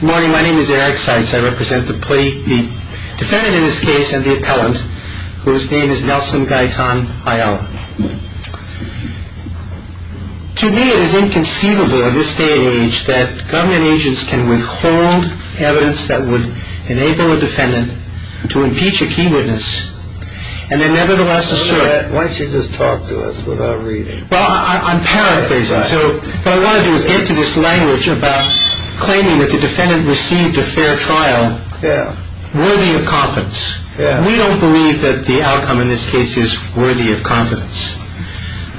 Good morning. My name is Eric Seitz. I represent the defendant in this case and the appellant, whose name is Nelson Gaitan-Ayala. To me, it is inconceivable in this day and age that government agents can withhold evidence that would enable a defendant to impeach a key witness and nevertheless assert Why don't you just talk to us without reading? Well, I'm paraphrasing. What I want to do is get to this language about claiming that the defendant received a fair trial worthy of confidence. We don't believe that the outcome in this case is worthy of confidence.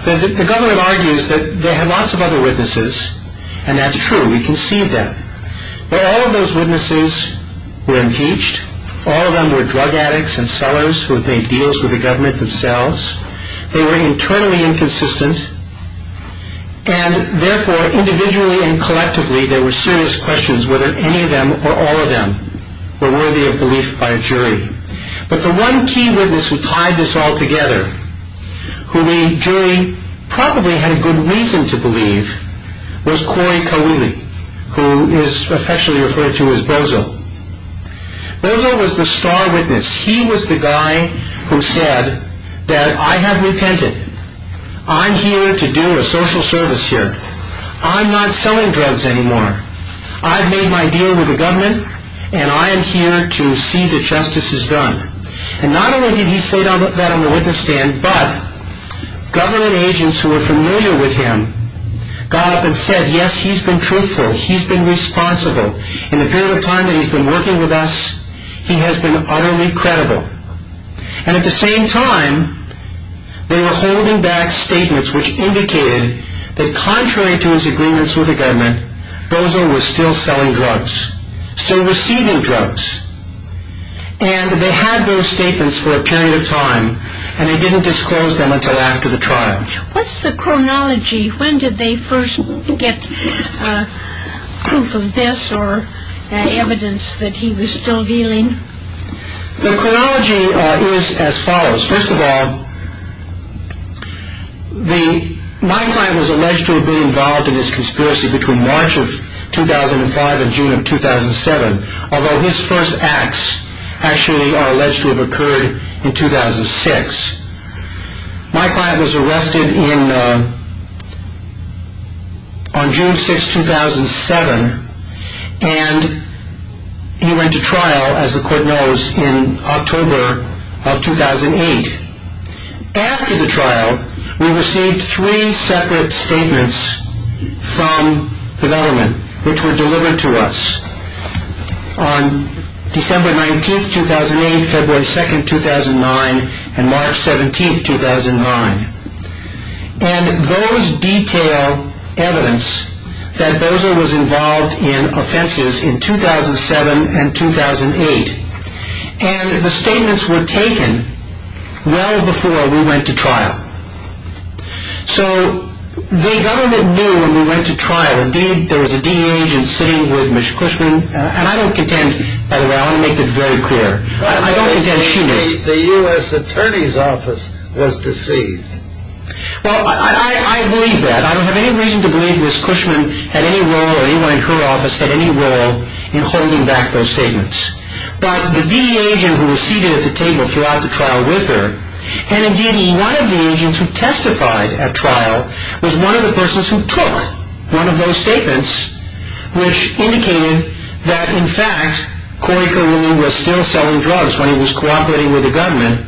The government argues that they had lots of other witnesses and that's true. We conceived them. But all of those witnesses were impeached. All of them were drug addicts and sellers who had made deals with the government themselves. They were internally inconsistent and therefore, individually and collectively, there were serious questions whether any of them or all of them were worthy of belief by a jury. But the one key witness who tied this all together, who the jury probably had a good reason to believe, was Corey Kawili, who is affectionately referred to as Bozo. Bozo was the star witness. He was the guy who said that I have repented. I'm here to do a social service here. I'm not selling drugs anymore. I've made my deal with the government and I am here to see that justice is done. And not only did he say that on the witness stand, but government agents who were familiar with him got up and said, yes, he's been truthful. He's been responsible. In the period of time that he's been working with us, he has been utterly credible. And at the same time, they were holding back statements which indicated that contrary to his agreements with the government, Bozo was still selling drugs, still receiving drugs. And they had those statements for a period of time and they didn't disclose them until after the trial. What's the chronology? When did they first get proof of this or evidence that he was still dealing? The chronology is as follows. First of all, my client was alleged to have been involved in this conspiracy between March of 2005 and June of 2007. Although his first acts actually are alleged to have occurred in 2006. My client was arrested on June 6, 2007 and he went to trial, as the court knows, in October of 2008. After the trial, we received three separate statements from the government which were delivered to us on December 19, 2008, February 2, 2009, and March 17, 2009. And those detail evidence that Bozo was involved in offenses in 2007 and 2008. And the statements were taken well before we went to trial. So the government knew when we went to trial. Indeed, there was a DEA agent sitting with Mr. Cushman. And I don't contend, by the way, I want to make it very clear. I don't contend she knew. The U.S. Attorney's Office was deceived. Well, I believe that. I don't have any reason to believe Ms. Cushman had any role or anyone in her office had any role in holding back those statements. But the DEA agent who was seated at the table throughout the trial with her, and indeed one of the agents who testified at trial, was one of the persons who took one of those statements which indicated that, in fact, Corey Carillo was still selling drugs when he was cooperating with the government,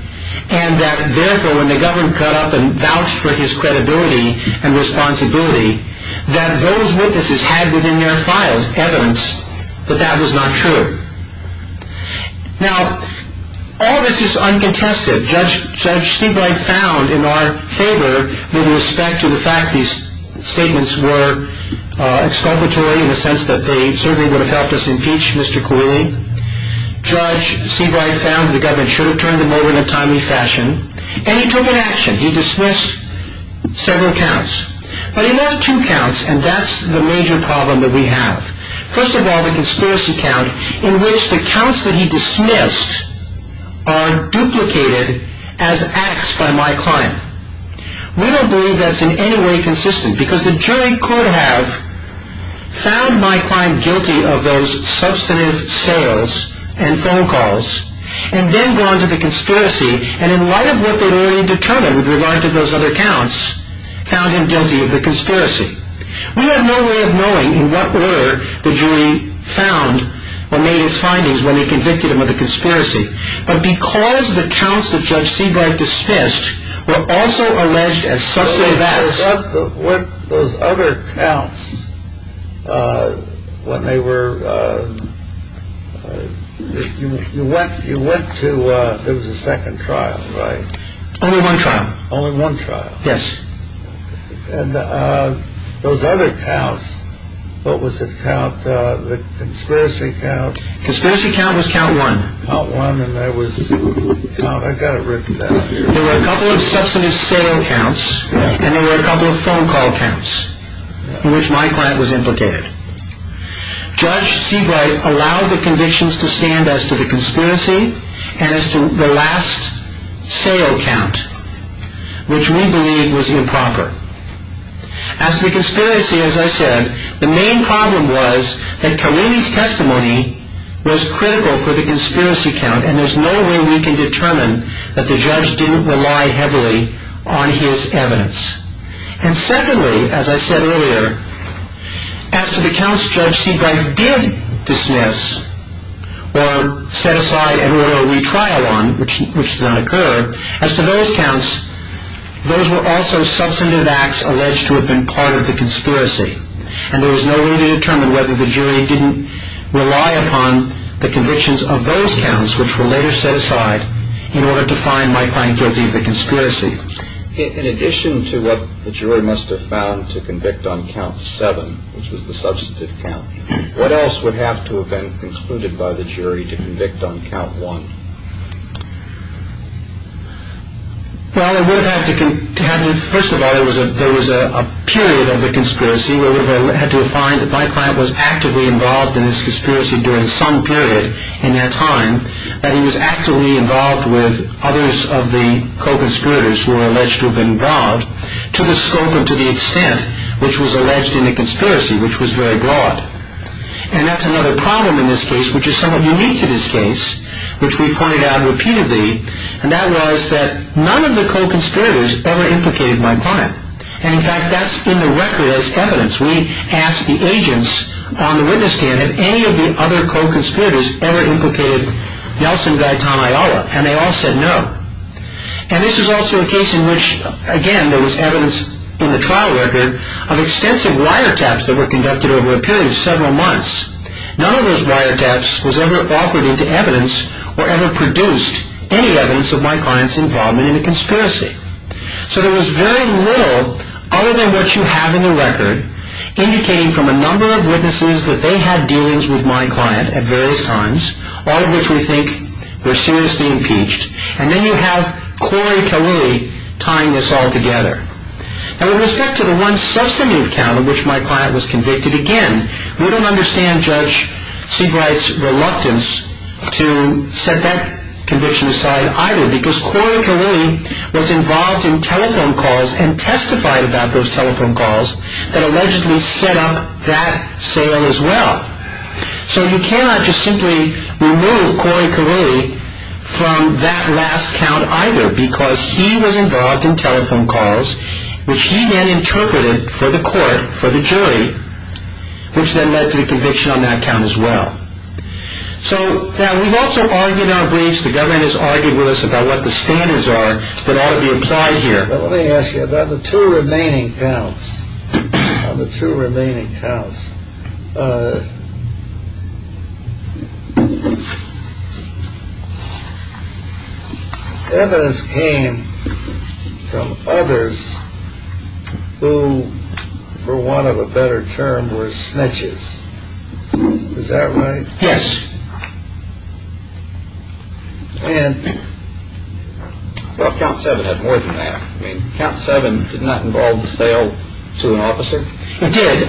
and that, therefore, when the government cut up and vouched for his credibility and responsibility, that those witnesses had within their files evidence that that was not true. Now, all this is uncontested. Judge Stigleit found in our favor with respect to the fact these statements were exculpatory in the sense that they certainly would have helped us impeach Mr. Carillo, Judge Seabright found the government should have turned them over in a timely fashion, and he took an action. He dismissed several counts. But he left two counts, and that's the major problem that we have. First of all, the conspiracy count in which the counts that he dismissed are duplicated as acts by my client. We don't believe that's in any way consistent, because the jury could have found my client guilty of those substantive sales and phone calls, and then gone to the conspiracy, and in light of what they'd already determined with regard to those other counts, found him guilty of the conspiracy. We have no way of knowing in what order the jury found or made his findings when they convicted him of the conspiracy, but because the counts that Judge Seabright dismissed were also alleged as substantive acts. Those other counts, when they were, you went to, there was a second trial, right? Only one trial. Only one trial. Yes. And those other counts, what was it, the conspiracy count? Conspiracy count was count one. Count one, and there was, I've got it written down here. There were a couple of substantive sale counts, and there were a couple of phone call counts, in which my client was implicated. Judge Seabright allowed the convictions to stand as to the conspiracy, and as to the last sale count, which we believe was improper. As to the conspiracy, as I said, the main problem was that Tarini's testimony was critical for the conspiracy count, and there's no way we can determine that the judge didn't rely heavily on his evidence. And secondly, as I said earlier, as to the counts Judge Seabright did dismiss, or set aside and wrote a retrial on, which did not occur, as to those counts, those were also substantive acts alleged to have been part of the conspiracy, and there was no way to determine whether the jury didn't rely upon the convictions of those counts, which were later set aside in order to find my client guilty of the conspiracy. In addition to what the jury must have found to convict on count seven, which was the substantive count, what else would have to have been concluded by the jury to convict on count one? Well, first of all, there was a period of the conspiracy where we had to find that my client was actively involved in this conspiracy during some period in that time, that he was actively involved with others of the co-conspirators who were alleged to have been robbed, to the scope and to the extent which was alleged in the conspiracy, which was very broad. And that's another problem in this case, which is somewhat unique to this case, which we've pointed out repeatedly, and that was that none of the co-conspirators ever implicated my client. And in fact, that's in the record as evidence. We asked the agents on the witness stand if any of the other co-conspirators ever implicated Nelson Gaitanayawa, and they all said no. And this is also a case in which, again, there was evidence in the trial record of extensive wiretaps that were conducted over a period of several months. None of those wiretaps was ever offered into evidence or ever produced any evidence of my client's involvement in a conspiracy. So there was very little, other than what you have in the record, indicating from a number of witnesses that they had dealings with my client at various times, all of which we think were seriously impeached. And then you have Corey Kali tying this all together. Now, with respect to the one substantive count on which my client was convicted, again, we don't understand Judge Seabright's reluctance to set that conviction aside either, because Corey Kali was involved in telephone calls and testified about those telephone calls that allegedly set up that sale as well. So you cannot just simply remove Corey Kali from that last count either, because he was involved in telephone calls, which he then interpreted for the court, for the jury, which then led to the conviction on that count as well. So, now, we've also argued in our briefs, the government has argued with us about what the standards are that ought to be applied here. But let me ask you, of the two remaining counts, of the two remaining counts, evidence came from others who, for want of a better term, were snitches. Is that right? Yes. And, well, Count 7 has more than that. I mean, Count 7 did not involve the sale to an officer? It did.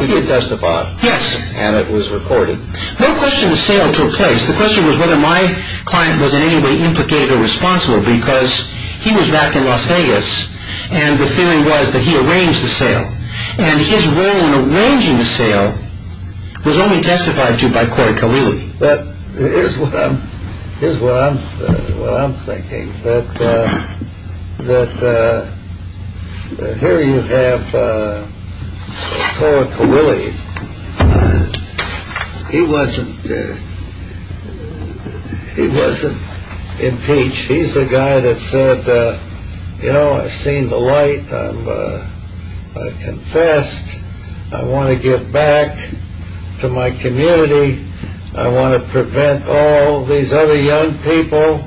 He did testify. Yes. And it was recorded. No question the sale took place. The question was whether my client was in any way implicated or responsible, And his role in arranging the sale was only testified to by Corey Kalili. Here's what I'm thinking, that here you have Corey Kalili. He wasn't impeached. He's the guy that said, you know, I've seen the light. I've confessed. I want to give back to my community. I want to prevent all these other young people.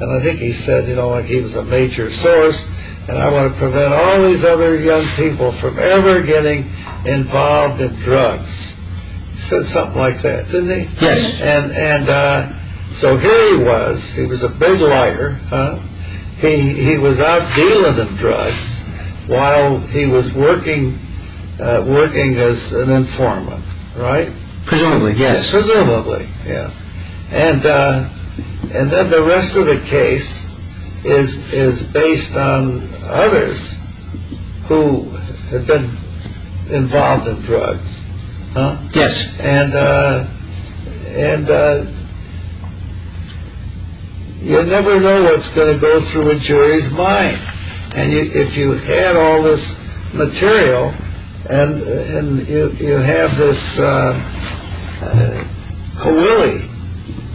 And I think he said, you know, he was a major source. And I want to prevent all these other young people from ever getting involved in drugs. He said something like that, didn't he? Yes. And so here he was. He was a big liar. He was out dealing in drugs while he was working as an informant, right? Presumably, yes. Presumably, yeah. And then the rest of the case is based on others who had been involved in drugs. Yes. And you never know what's going to go through a jury's mind. And if you add all this material and you have this Kalili,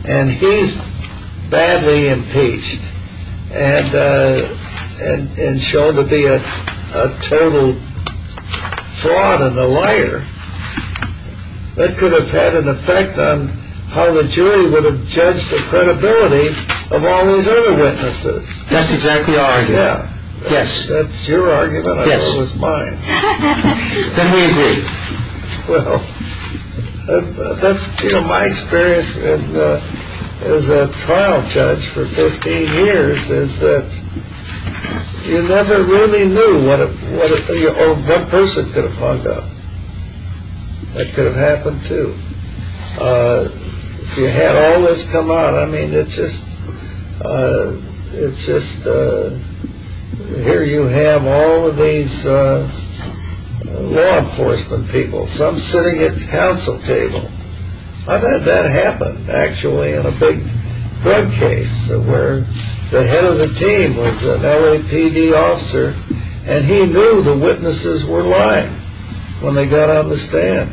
and he's badly impeached and shown to be a total fraud and a liar, that could have had an effect on how the jury would have judged the credibility of all these other witnesses. That's exactly our argument. Yeah. Yes. That's your argument. I thought it was mine. Then we agree. Well, you know, my experience as a trial judge for 15 years is that you never really knew what a person could have hung up. That could have happened too. If you had all this come out, I mean, it's just, it's just, here you have all of these law enforcement people, some sitting at the council table. I've had that happen, actually, in a big drug case where the head of the team was an LAPD officer, and he knew the witnesses were lying when they got on the stand.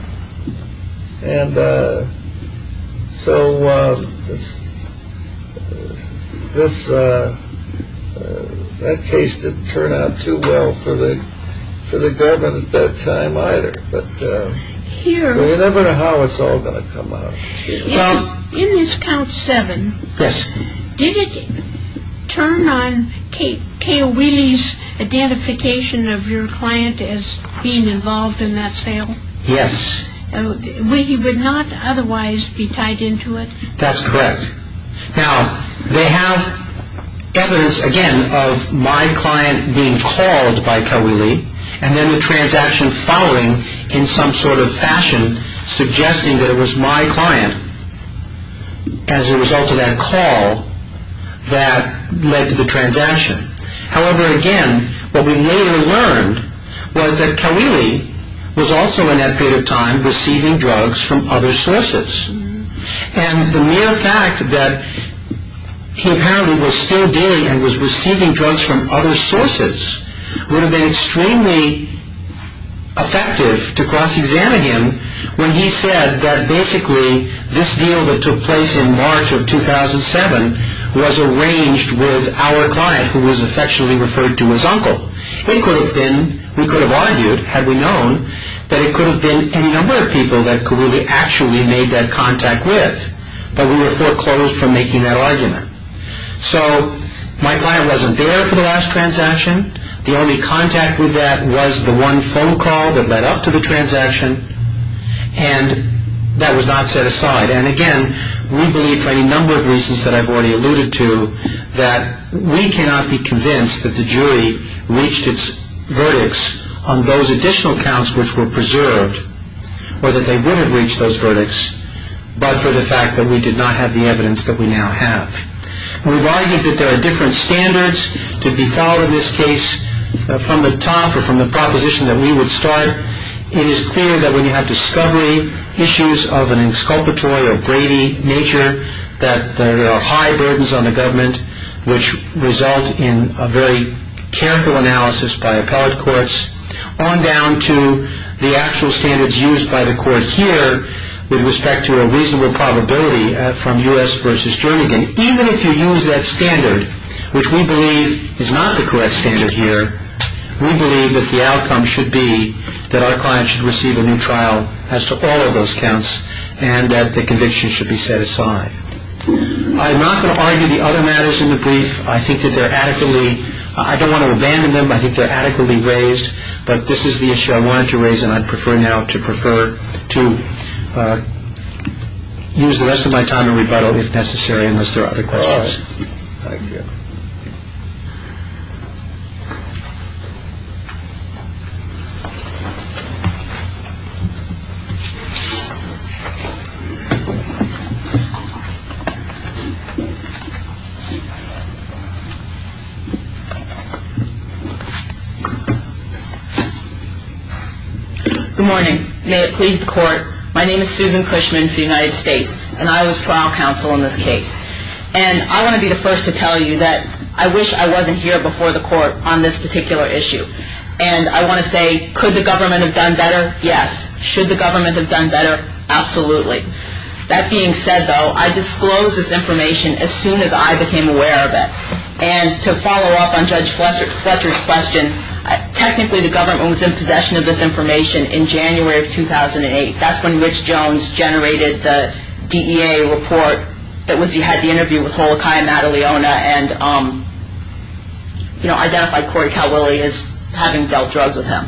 And so this, that case didn't turn out too well for the government at that time either. But you never know how it's all going to come out. In this count seven, did it turn on Kay O'Wheelie's identification of your client as being involved in that sale? Yes. He would not otherwise be tied into it? That's correct. Now, they have evidence, again, of my client being called by Kay O'Wheelie, and then the transaction following in some sort of fashion suggesting that it was my client as a result of that call that led to the transaction. However, again, what we later learned was that Kay O'Wheelie was also in that period of time receiving drugs from other sources. And the mere fact that he apparently was still dealing and was receiving drugs from other sources would have been extremely effective to cross-examine him when he said that basically this deal that took place in March of 2007 was arranged with our client, who was affectionately referred to as Uncle. We could have argued, had we known, that it could have been any number of people that Kay O'Wheelie actually made that contact with, but we were foreclosed from making that argument. So my client wasn't there for the last transaction. The only contact with that was the one phone call that led up to the transaction, and that was not set aside. And again, we believe, for any number of reasons that I've already alluded to, that we cannot be convinced that the jury reached its verdicts on those additional counts which were preserved, or that they would have reached those verdicts, but for the fact that we did not have the evidence that we now have. We've argued that there are different standards to be followed in this case from the top or from the proposition that we would start. It is clear that when you have discovery issues of an exculpatory or gravy nature, that there are high burdens on the government which result in a very careful analysis by appellate courts, on down to the actual standards used by the court here with respect to a reasonable probability from U.S. v. Jernigan. Even if you use that standard, which we believe is not the correct standard here, we believe that the outcome should be that our client should receive a new trial as to all of those counts and that the conviction should be set aside. I'm not going to argue the other matters in the brief. I think that they're adequately – I don't want to abandon them. I think they're adequately raised, but this is the issue I wanted to raise, and I'd prefer now to prefer to use the rest of my time to rebuttal if necessary, unless there are other questions. Good morning. May it please the court. My name is Susan Cushman for the United States, and I was trial counsel in this case. And I want to be the first to tell you that I wish I wasn't here before the court on this particular issue. And I want to say, could the government have done better? Yes. Should the government have done better? Absolutely. That being said, though, I disclosed this information as soon as I became aware of it. And to follow up on Judge Fletcher's question, technically the government was in possession of this information in January of 2008. That's when Mitch Jones generated the DEA report that was – he had the interview with Holokai Mataliona and, you know, identified Corey Calwillie as having dealt drugs with him.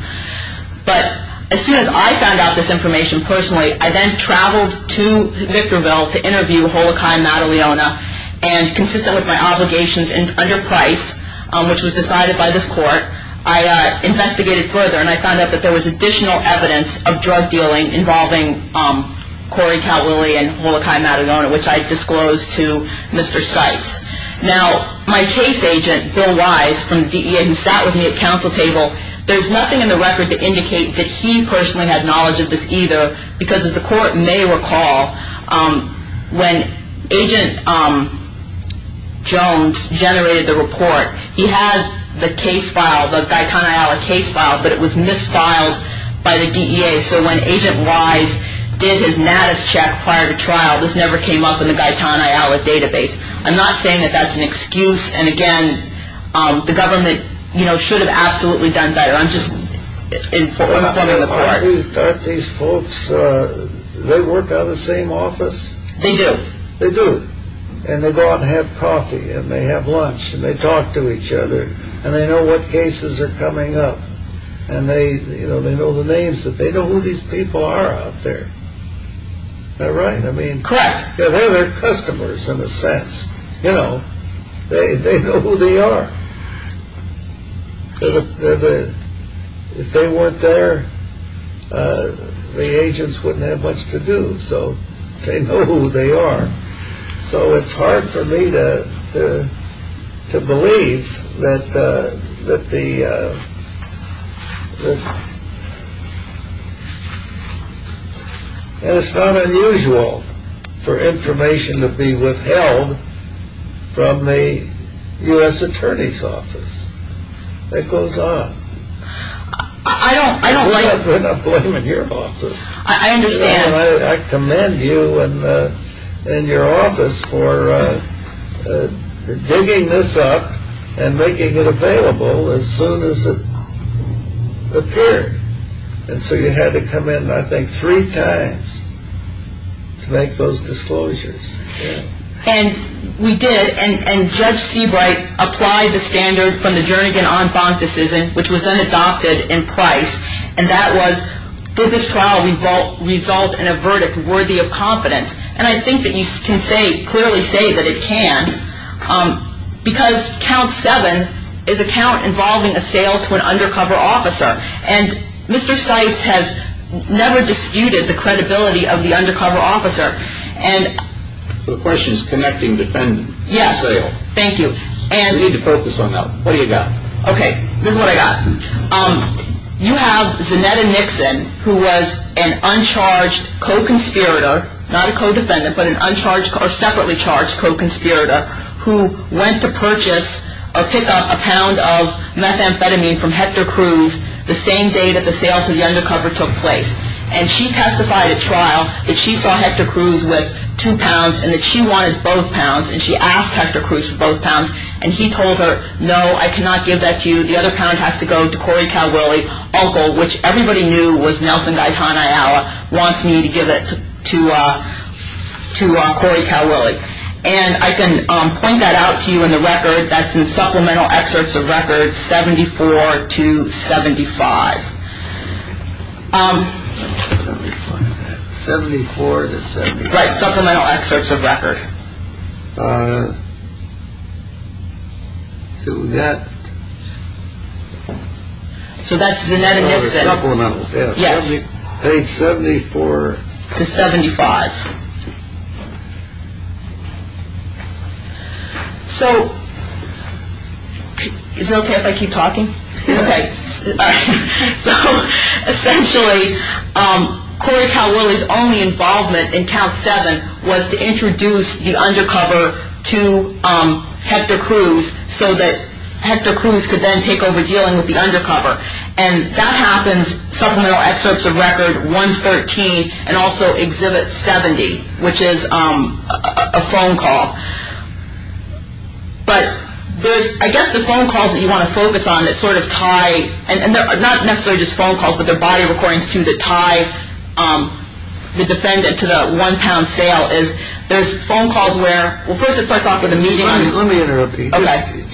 But as soon as I found out this information personally, I then traveled to Victorville to interview Holokai Mataliona, and consistent with my obligations under Price, which was decided by this court, I investigated further and I found out that there was additional evidence of drug dealing involving Corey Calwillie and Holokai Mataliona, which I disclosed to Mr. Sykes. Now, my case agent, Bill Wise, from the DEA, who sat with me at counsel table, there's nothing in the record to indicate that he personally had knowledge of this either, because as the court may recall, when Agent Jones generated the report, he had the case file, the Gaitan Ayala case file, but it was misfiled by the DEA. So when Agent Wise did his Natus check prior to trial, this never came up in the Gaitan Ayala database. I'm not saying that that's an excuse. And again, the government, you know, should have absolutely done better. I'm just in front of the court. Aren't these folks, they work out of the same office? They do. They do. And they go out and have coffee and they have lunch and they talk to each other and they know what cases are coming up and they, you know, they know the names that they know who these people are out there. Am I right? Correct. They're their customers in a sense, you know. They know who they are. If they weren't there, the agents wouldn't have much to do. So they know who they are. So it's hard for me to believe that the – And it's not unusual for information to be withheld from the U.S. Attorney's Office. It goes on. I don't like – We're not blaming your office. I understand. I commend you and your office for digging this up and making it available as soon as it appeared. And so you had to come in, I think, three times to make those disclosures. And we did. And Judge Seabright applied the standard from the Jernigan-Onn-Fonk decision, which was then adopted in Price, and that was, did this trial result in a verdict worthy of confidence? And I think that you can clearly say that it can because count seven is a count involving a sale to an undercover officer. And Mr. Seitz has never disputed the credibility of the undercover officer. So the question is connecting defendant to sale. Yes. Thank you. We need to focus on that. What do you got? Okay. This is what I got. You have Zanetta Nixon, who was an uncharged co-conspirator, not a co-defendant, but an uncharged or separately charged co-conspirator, who went to purchase or pick up a pound of methamphetamine from Hector Cruz the same day that the sale to the undercover took place. And she testified at trial that she saw Hector Cruz with two pounds and that she wanted both pounds, and she asked Hector Cruz for both pounds. And he told her, no, I cannot give that to you. The other pound has to go to Corey Calwillie, which everybody knew was Nelson Gaetano Ayala, wants me to give it to Corey Calwillie. And I can point that out to you in the record. That's in supplemental excerpts of record 74 to 75. 74 to 75. Right. Supplemental excerpts of record. So that. So that's Zanetta Nixon. Supplemental. Yes. Page 74. To 75. So is it okay if I keep talking? Okay. So essentially Corey Calwillie's only involvement in count seven was to introduce the undercover to Hector Cruz so that Hector Cruz could then take over dealing with the undercover. And that happens supplemental excerpts of record 113 and also exhibit 70, which is a phone call. But there's I guess the phone calls that you want to focus on that sort of tie, and they're not necessarily just phone calls, but they're body recordings to tie the defendant to the one pound sale. There's phone calls where, well, first it starts off with a meeting. Let me interrupt you. Okay.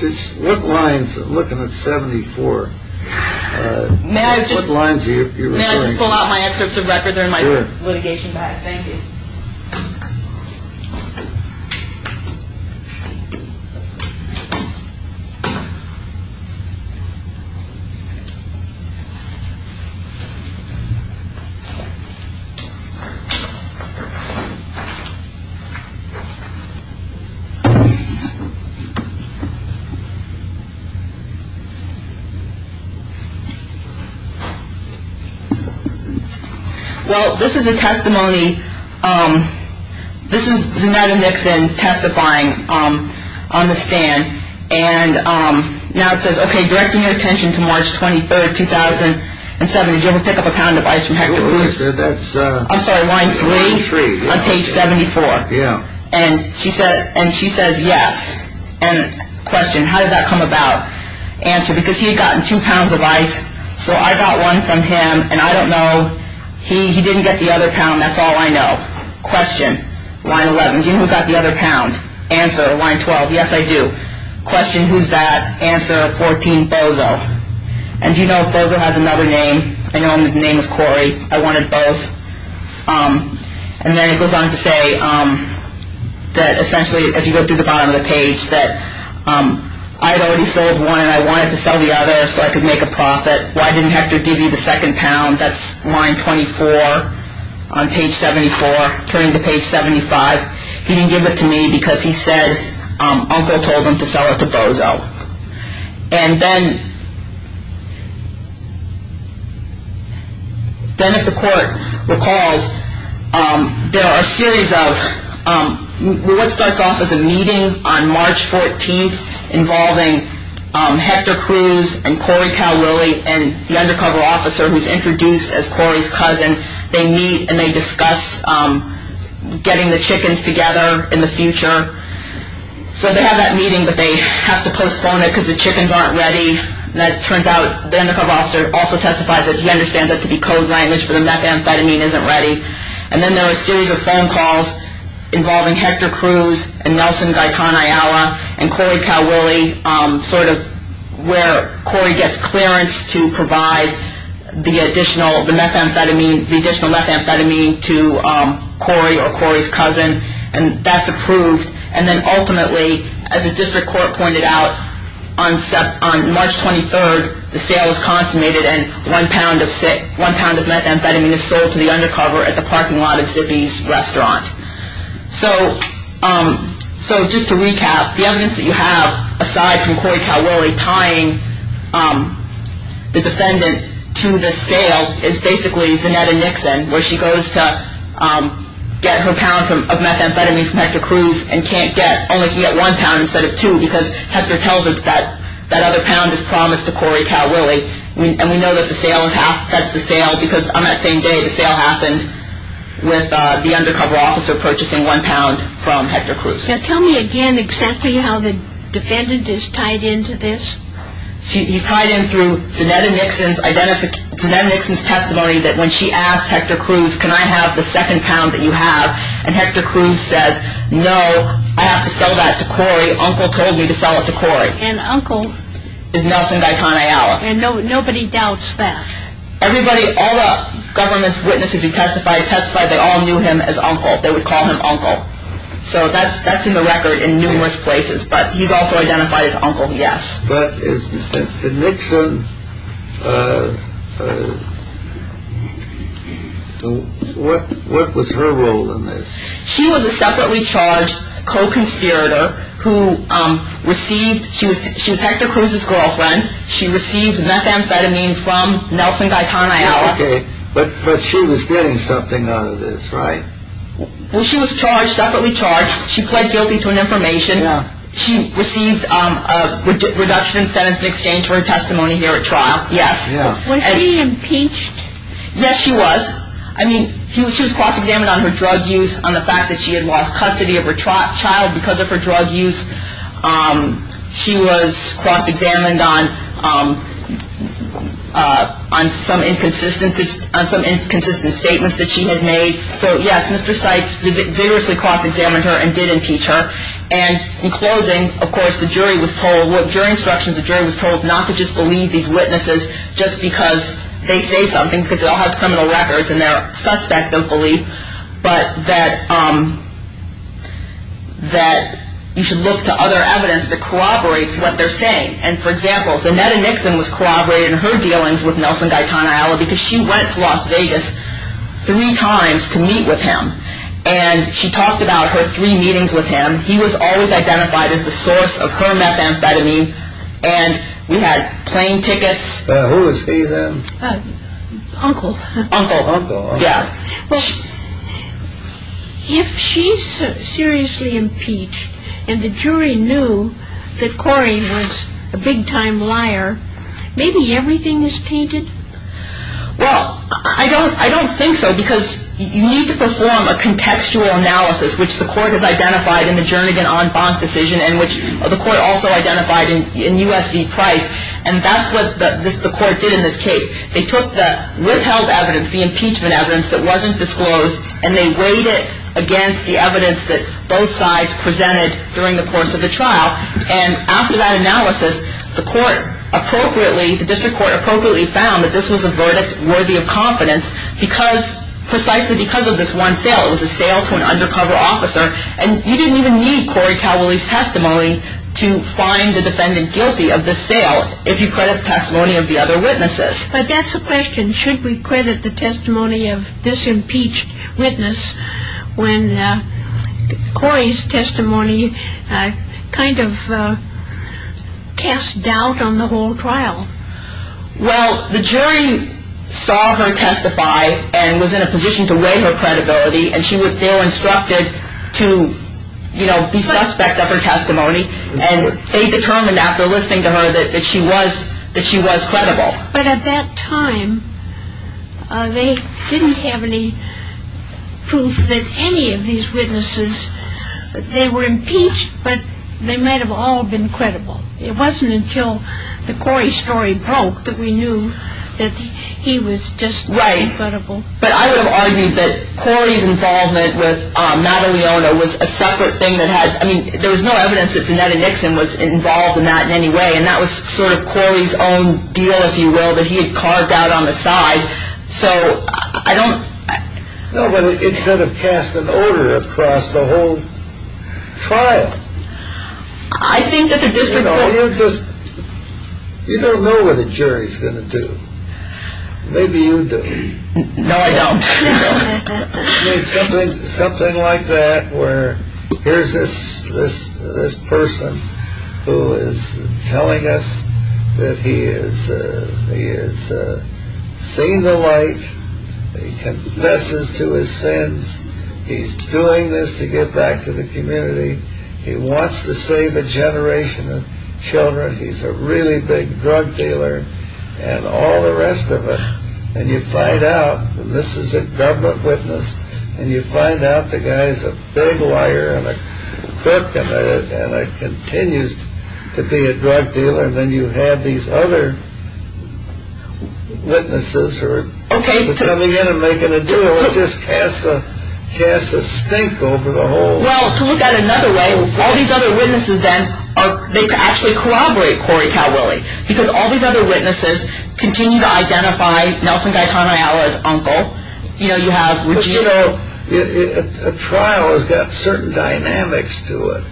What lines? I'm looking at 74. What lines are you referring to? May I just pull out my excerpts of record? They're in my litigation bag. Okay. Thank you. Well, this is a testimony. This is Zanetta Nixon testifying on the stand. And now it says, okay, directing your attention to March 23, 2007. Did you ever pick up a pound of ice from Hector Cruz? I'm sorry, line three on page 74. And she says, yes. And question, how did that come about? Answer, because he had gotten two pounds of ice. So I got one from him, and I don't know. He didn't get the other pound. That's all I know. Question, line 11, do you know who got the other pound? Answer, line 12, yes, I do. Question, who's that? Answer, 14, Bozo. And do you know if Bozo has another name? I know his name is Cory. I wanted both. And then it goes on to say that essentially, if you go through the bottom of the page, that I had already sold one, and I wanted to sell the other so I could make a profit. Why didn't Hector give you the second pound? That's line 24 on page 74, turning to page 75. He didn't give it to me because he said Uncle told him to sell it to Bozo. And then if the court recalls, there are a series of what starts off as a meeting on March 14th involving Hector Cruz and Cory Cowlilly and the undercover officer who's introduced as Cory's cousin. They meet, and they discuss getting the chickens together in the future. So they have that meeting, but they have to postpone it because the chickens aren't ready. And it turns out the undercover officer also testifies that he understands it to be code language, but the methamphetamine isn't ready. And then there are a series of phone calls involving Hector Cruz and Nelson Gaitan Ayala and Cory Cowlilly, sort of where Cory gets clearance to provide the additional methamphetamine to Cory or Cory's cousin. And that's approved. And then ultimately, as the district court pointed out, on March 23rd, the sale is consummated and one pound of methamphetamine is sold to the undercover at the parking lot of Zippy's restaurant. So just to recap, the evidence that you have aside from Cory Cowlilly tying the defendant to the sale is basically Zanetta Nixon, where she goes to get her pound of methamphetamine from Hector Cruz and can't get it. Only can get one pound instead of two because Hector tells her that that other pound is promised to Cory Cowlilly. And we know that that's the sale because on that same day, the sale happened with the undercover officer purchasing one pound from Hector Cruz. Now, tell me again exactly how the defendant is tied into this. He's tied in through Zanetta Nixon's testimony that when she asked Hector Cruz, can I have the second pound that you have? And Hector Cruz says, no, I have to sell that to Cory. Uncle told me to sell it to Cory. And uncle? Is Nelson Gaitan Ayala. And nobody doubts that? Everybody, all the government's witnesses who testified, testified they all knew him as uncle. They would call him uncle. So that's in the record in numerous places. But he's also identified as uncle, yes. But is Nixon, what was her role in this? She was a separately charged co-conspirator who received, she was Hector Cruz's girlfriend. She received methamphetamine from Nelson Gaitan Ayala. But she was getting something out of this, right? Well, she was charged, separately charged. She pled guilty to an information. She received a reduction in sentence in exchange for her testimony here at trial, yes. Was she impeached? Yes, she was. I mean, she was cross-examined on her drug use, on the fact that she had lost custody of her child because of her drug use. She was cross-examined on some inconsistent statements that she had made. So, yes, Mr. Seitz vigorously cross-examined her and did impeach her. And in closing, of course, the jury was told, during instructions, the jury was told not to just believe these witnesses just because they say something, because they'll have criminal records and they're a suspect of belief, but that you should look to other evidence that corroborates what they're saying. And, for example, Zanetta Nixon was corroborated in her dealings with Nelson Gaitan Ayala because she went to Las Vegas three times to meet with him. And she talked about her three meetings with him. He was always identified as the source of her methamphetamine. And we had plane tickets. Who was he then? Uncle. Uncle. Uncle. Yeah. Well, if she's seriously impeached and the jury knew that Corey was a big-time liar, maybe everything is tainted? Well, I don't think so, because you need to perform a contextual analysis, which the court has identified in the Jernigan-On-Bonk decision and which the court also identified in U.S. v. Price. And that's what the court did in this case. They took the withheld evidence, the impeachment evidence that wasn't disclosed, and they weighed it against the evidence that both sides presented during the course of the trial. And after that analysis, the court appropriately, the district court appropriately found that this was a verdict worthy of confidence precisely because of this one sale. It was a sale to an undercover officer. And you didn't even need Corey Cowley's testimony to find the defendant guilty of this sale if you credit the testimony of the other witnesses. But that's the question. And should we credit the testimony of this impeached witness when Corey's testimony kind of cast doubt on the whole trial? Well, the jury saw her testify and was in a position to weigh her credibility, and they were instructed to, you know, be suspect of her testimony. And they determined after listening to her that she was credible. But at that time, they didn't have any proof that any of these witnesses, they were impeached, but they might have all been credible. It wasn't until the Corey story broke that we knew that he was just not credible. Right. But I would have argued that Corey's involvement with Maddalena was a separate thing that had, I mean, there was no evidence that Zanetta Nixon was involved in that in any way, and that was sort of Corey's own deal, if you will, that he had carved out on the side. So I don't... No, but it kind of cast an odor across the whole trial. I think that the district court... You know, you just, you don't know what a jury's going to do. Maybe you do. No, I don't. I mean, something like that, where here's this person who is telling us that he has seen the light, he confesses to his sins, he's doing this to give back to the community, he wants to save a generation of children, he's a really big drug dealer, and all the rest of it. And you find out, and this is a government witness, and you find out the guy's a big liar and a crook and continues to be a drug dealer, and then you have these other witnesses who are coming in and making a deal. It just casts a stink over the whole... Well, to look at it another way, all these other witnesses then, they actually corroborate Corey Calwillie, because all these other witnesses continue to identify Nelson Gaitanayala as uncle. You know, you have... But you know, a trial has got certain dynamics to it.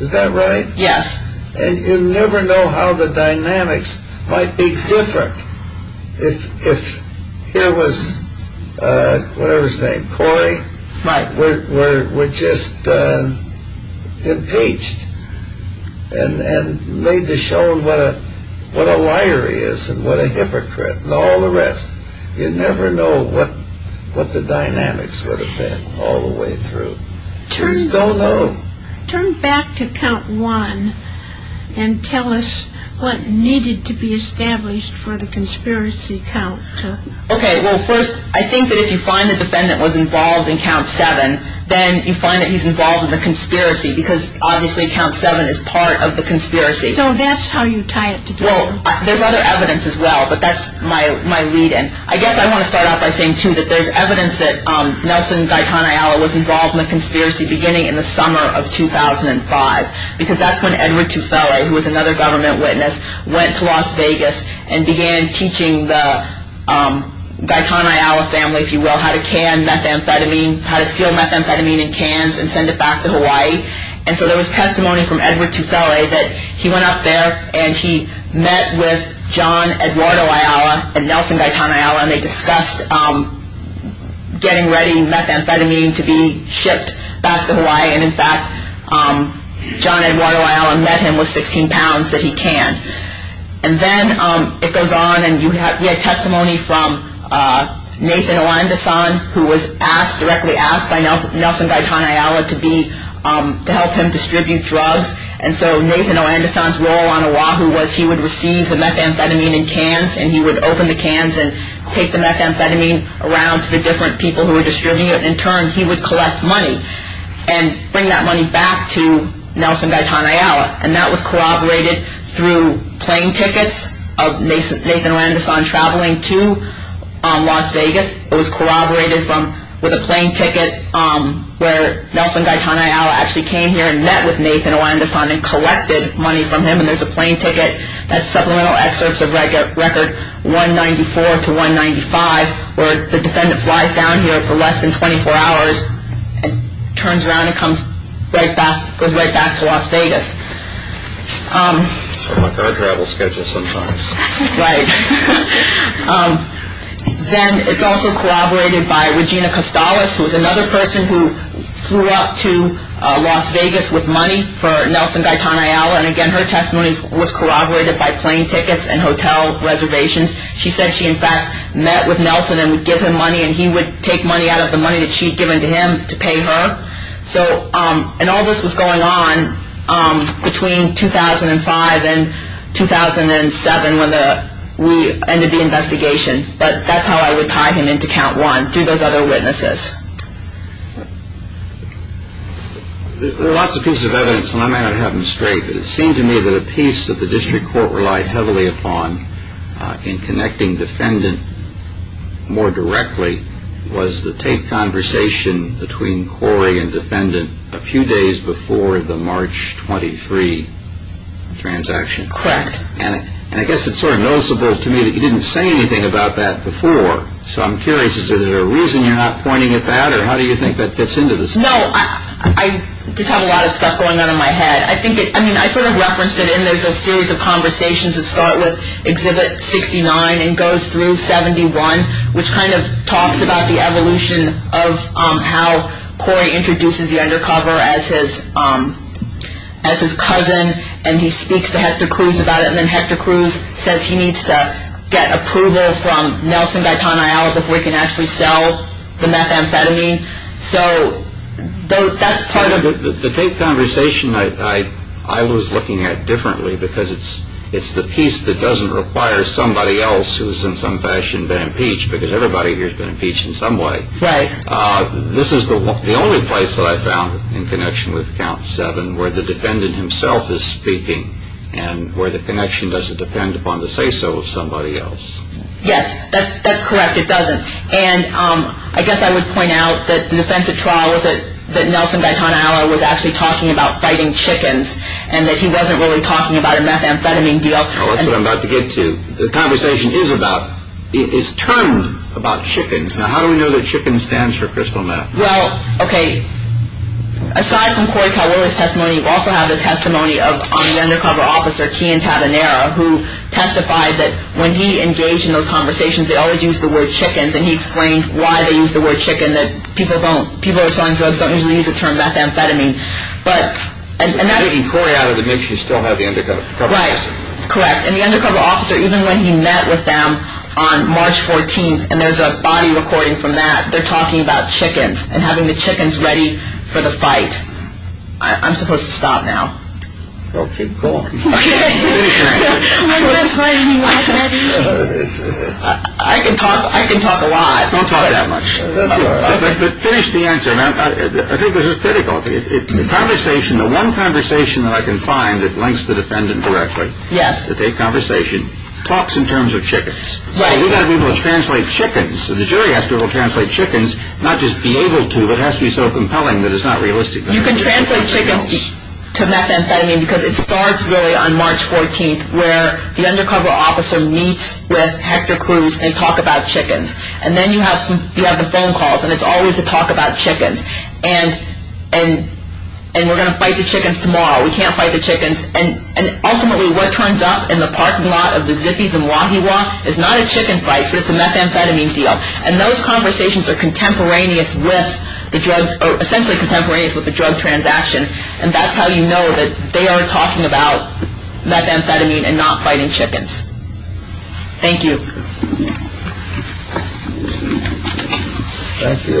Is that right? Yes. And you never know how the dynamics might be different if here was, whatever his name, Corey, were just impeached and made to show what a liar he is and what a hypocrite and all the rest. You never know what the dynamics would have been all the way through. You just don't know. Turn back to count one and tell us what needed to be established for the conspiracy count. Okay. Well, first, I think that if you find the defendant was involved in count seven, then you find that he's involved in the conspiracy, because obviously count seven is part of the conspiracy. So that's how you tie it together. Well, there's other evidence as well, but that's my lead-in. I guess I want to start off by saying, too, that there's evidence that Nelson Gaitanayala was involved in the conspiracy beginning in the summer of 2005, because that's when Edward Tufele, who was another government witness, went to Las Vegas and began teaching the Gaitanayala family, if you will, how to can methamphetamine, how to seal methamphetamine in cans and send it back to Hawaii. And so there was testimony from Edward Tufele that he went up there and he met with John Eduardo Ayala and Nelson Gaitanayala, and they discussed getting ready methamphetamine to be shipped back to Hawaii. And in fact, John Eduardo Ayala met him with 16 pounds that he canned. And then it goes on, and we had testimony from Nathan Oandesan, who was directly asked by Nelson Gaitanayala to help him distribute drugs. And so Nathan Oandesan's role on Oahu was he would receive the methamphetamine in cans and he would open the cans and take the methamphetamine around to the different people who were distributing it. In turn, he would collect money. And bring that money back to Nelson Gaitanayala. And that was corroborated through plane tickets of Nathan Oandesan traveling to Las Vegas. It was corroborated with a plane ticket where Nelson Gaitanayala actually came here and met with Nathan Oandesan and collected money from him. And there's a plane ticket that's supplemental excerpts of record 194 to 195, where the defendant flies down here for less than 24 hours, turns around and goes right back to Las Vegas. I'm on my car travel schedule sometimes. Right. Then it's also corroborated by Regina Costales, who was another person who flew up to Las Vegas with money for Nelson Gaitanayala. And again, her testimony was corroborated by plane tickets and hotel reservations. She said she, in fact, met with Nelson and would give him money and he would take money out of the money that she had given to him to pay her. And all this was going on between 2005 and 2007 when we ended the investigation. But that's how I would tie him into count one, through those other witnesses. There are lots of pieces of evidence, and I may not have them straight, but it seemed to me that a piece that the district court relied heavily upon in connecting defendant more directly was the taped conversation between Corey and defendant a few days before the March 23 transaction. Correct. And I guess it's sort of noticeable to me that you didn't say anything about that before. So I'm curious, is there a reason you're not pointing at that, or how do you think that fits into this? No, I just have a lot of stuff going on in my head. I mean, I sort of referenced it, and there's a series of conversations that start with Exhibit 69 and goes through 71, which kind of talks about the evolution of how Corey introduces the undercover as his cousin, and he speaks to Hector Cruz about it, and then Hector Cruz says he needs to get approval from Nelson Gaitan Ayala before he can actually sell the methamphetamine. So that's part of it. The taped conversation I was looking at differently, because it's the piece that doesn't require somebody else who's in some fashion been impeached, because everybody here's been impeached in some way. Right. This is the only place that I found in connection with Count 7 where the defendant himself is speaking, and where the connection doesn't depend upon the say-so of somebody else. Yes, that's correct, it doesn't. And I guess I would point out that the defense at trial was that Nelson Gaitan Ayala was actually talking about fighting chickens, and that he wasn't really talking about a methamphetamine deal. Oh, that's what I'm about to get to. The conversation is turned about chickens. Now, how do we know that chicken stands for crystal meth? Well, okay, aside from Corey Calvillo's testimony, you also have the testimony of an undercover officer, Kian Tabanera, who testified that when he engaged in those conversations they always used the word chickens, and he explained why they used the word chicken, that people who are selling drugs don't usually use the term methamphetamine. And getting Corey out of the mix, you still have the undercover officer. Right, correct. And the undercover officer, even when he met with them on March 14th, and there's a body recording from that, they're talking about chickens, and having the chickens ready for the fight. I'm supposed to stop now. Well, keep going. Finish the answer. I can talk a lot. Don't talk that much. That's all right. But finish the answer. Now, I think this is critical. The conversation, the one conversation that I can find that links the defendant directly. Yes. To take conversation, talks in terms of chickens. Right. So we've got to be able to translate chickens. The jury has to be able to translate chickens, not just be able to, but it has to be so compelling that it's not realistic. You can translate chickens to methamphetamine because it starts really on March 14th, where the undercover officer meets with Hector Cruz and they talk about chickens. And then you have the phone calls, and it's always a talk about chickens. And we're going to fight the chickens tomorrow. We can't fight the chickens. And ultimately what turns up in the parking lot of the Zippy's in Wahiawa is not a chicken fight, but it's a methamphetamine deal. And those conversations are contemporaneous with the drug, or essentially contemporaneous with the drug transaction. And that's how you know that they are talking about methamphetamine and not fighting chickens. Thank you. Thank you. Thank you.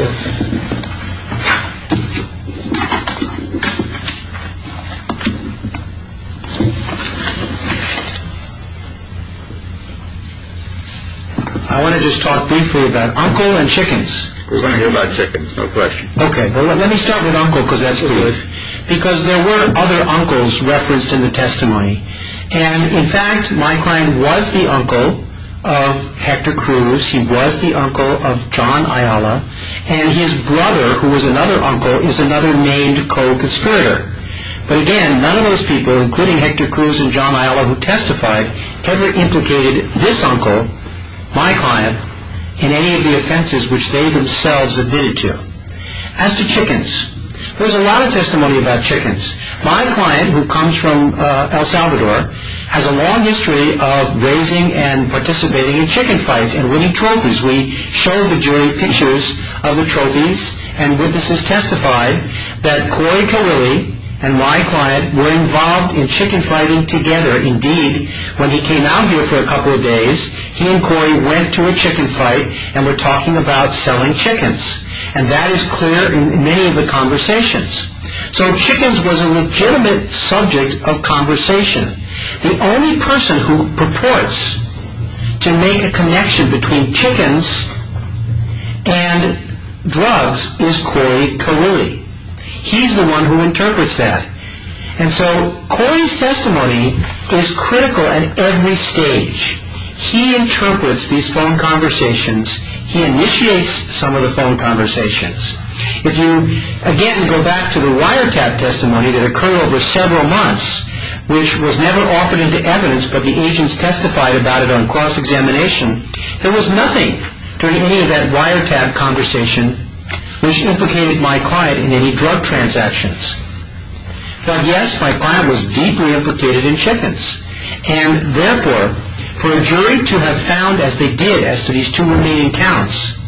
I want to just talk briefly about uncle and chickens. We're going to hear about chickens, no question. Okay. Well, let me start with uncle because that's who he is. Because there were other uncles referenced in the testimony. And, in fact, my client was the uncle of Hector Cruz. He was the uncle of John Ayala. And his brother, who was another uncle, is another named co-conspirator. But, again, none of those people, including Hector Cruz and John Ayala who testified, ever implicated this uncle, my client, in any of the offenses which they themselves admitted to. As to chickens, there's a lot of testimony about chickens. My client, who comes from El Salvador, has a long history of raising and participating in chicken fights and winning trophies. We showed the jury pictures of the trophies, and witnesses testified that Cory Carilli and my client were involved in chicken fighting together. Indeed, when he came out here for a couple of days, he and Cory went to a chicken fight and were talking about selling chickens. And that is clear in many of the conversations. So chickens was a legitimate subject of conversation. The only person who purports to make a connection between chickens and drugs is Cory Carilli. He's the one who interprets that. And so Cory's testimony is critical at every stage. He interprets these phone conversations. He initiates some of the phone conversations. If you, again, go back to the wiretap testimony that occurred over several months, which was never offered into evidence, but the agents testified about it on cross-examination, there was nothing, during any of that wiretap conversation, which implicated my client in any drug transactions. But, yes, my client was deeply implicated in chickens. And, therefore, for a jury to have found, as they did, as to these two remaining counts,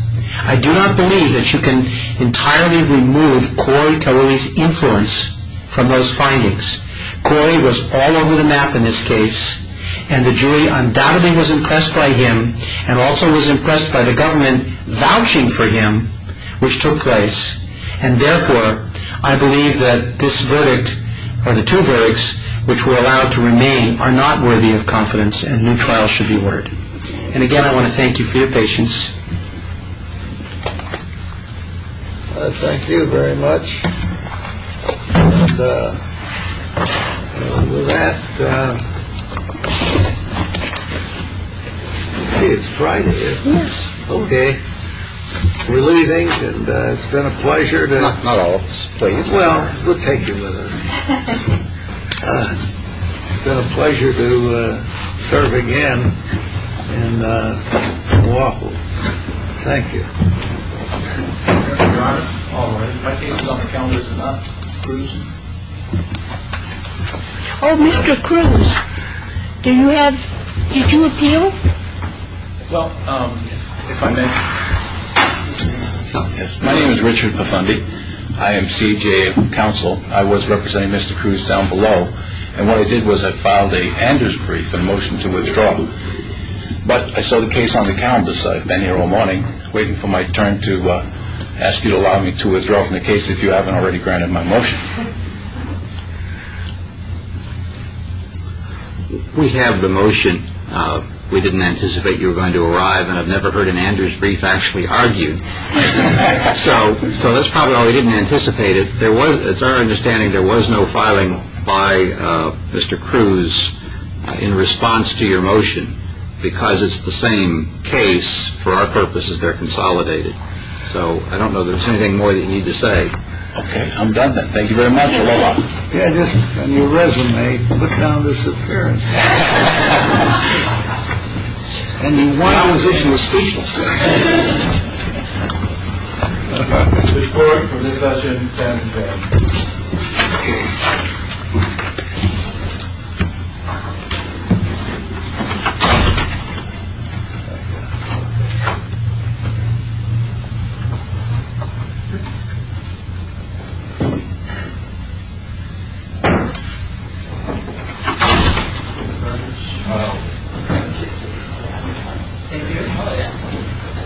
I do not believe that you can entirely remove Cory Carilli's influence from those findings. Cory was all over the map in this case. And the jury undoubtedly was impressed by him and also was impressed by the government vouching for him, which took place. And, therefore, I believe that this verdict, or the two verdicts, which were allowed to remain, are not worthy of confidence and new trials should be ordered. And, again, I want to thank you for your patience. Well, thank you very much. And with that, let's see, it's Friday, isn't it? Yes. Okay. We're leaving. And it's been a pleasure. Not all of us, please. Well, we'll take you with us. It's been a pleasure to serve again in Moapa. Thank you. Your Honor, my case is on the counters and not cruising. Oh, Mr. Cruz, do you have, did you appeal? Well, if I may, yes. My name is Richard Buffondi. I am CJA counsel. I was representing Mr. Cruz down below. And what I did was I filed an Anders brief, a motion to withdraw. But I saw the case on the calendar, so I've been here all morning, waiting for my turn to ask you to allow me to withdraw from the case, if you haven't already granted my motion. We have the motion. We didn't anticipate you were going to arrive, and I've never heard an Anders brief actually argued. So that's probably why we didn't anticipate it. It's our understanding there was no filing by Mr. Cruz in response to your motion, because it's the same case for our purposes. They're consolidated. So I don't know if there's anything more that you need to say. Okay, I'm done then. Thank you very much. You're welcome. Yeah, just on your resume, look down at this appearance. And your one opposition was speechless. Thank you. The board for this session stands adjourned. We've got to wind up. All right. Good job, Eric. Thank you. Thank you.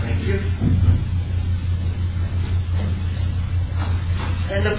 Thank you. Thank you. Thank you. Thank you. Thank you. Thank you. Thank you. Thank you. Thank you. Thank you.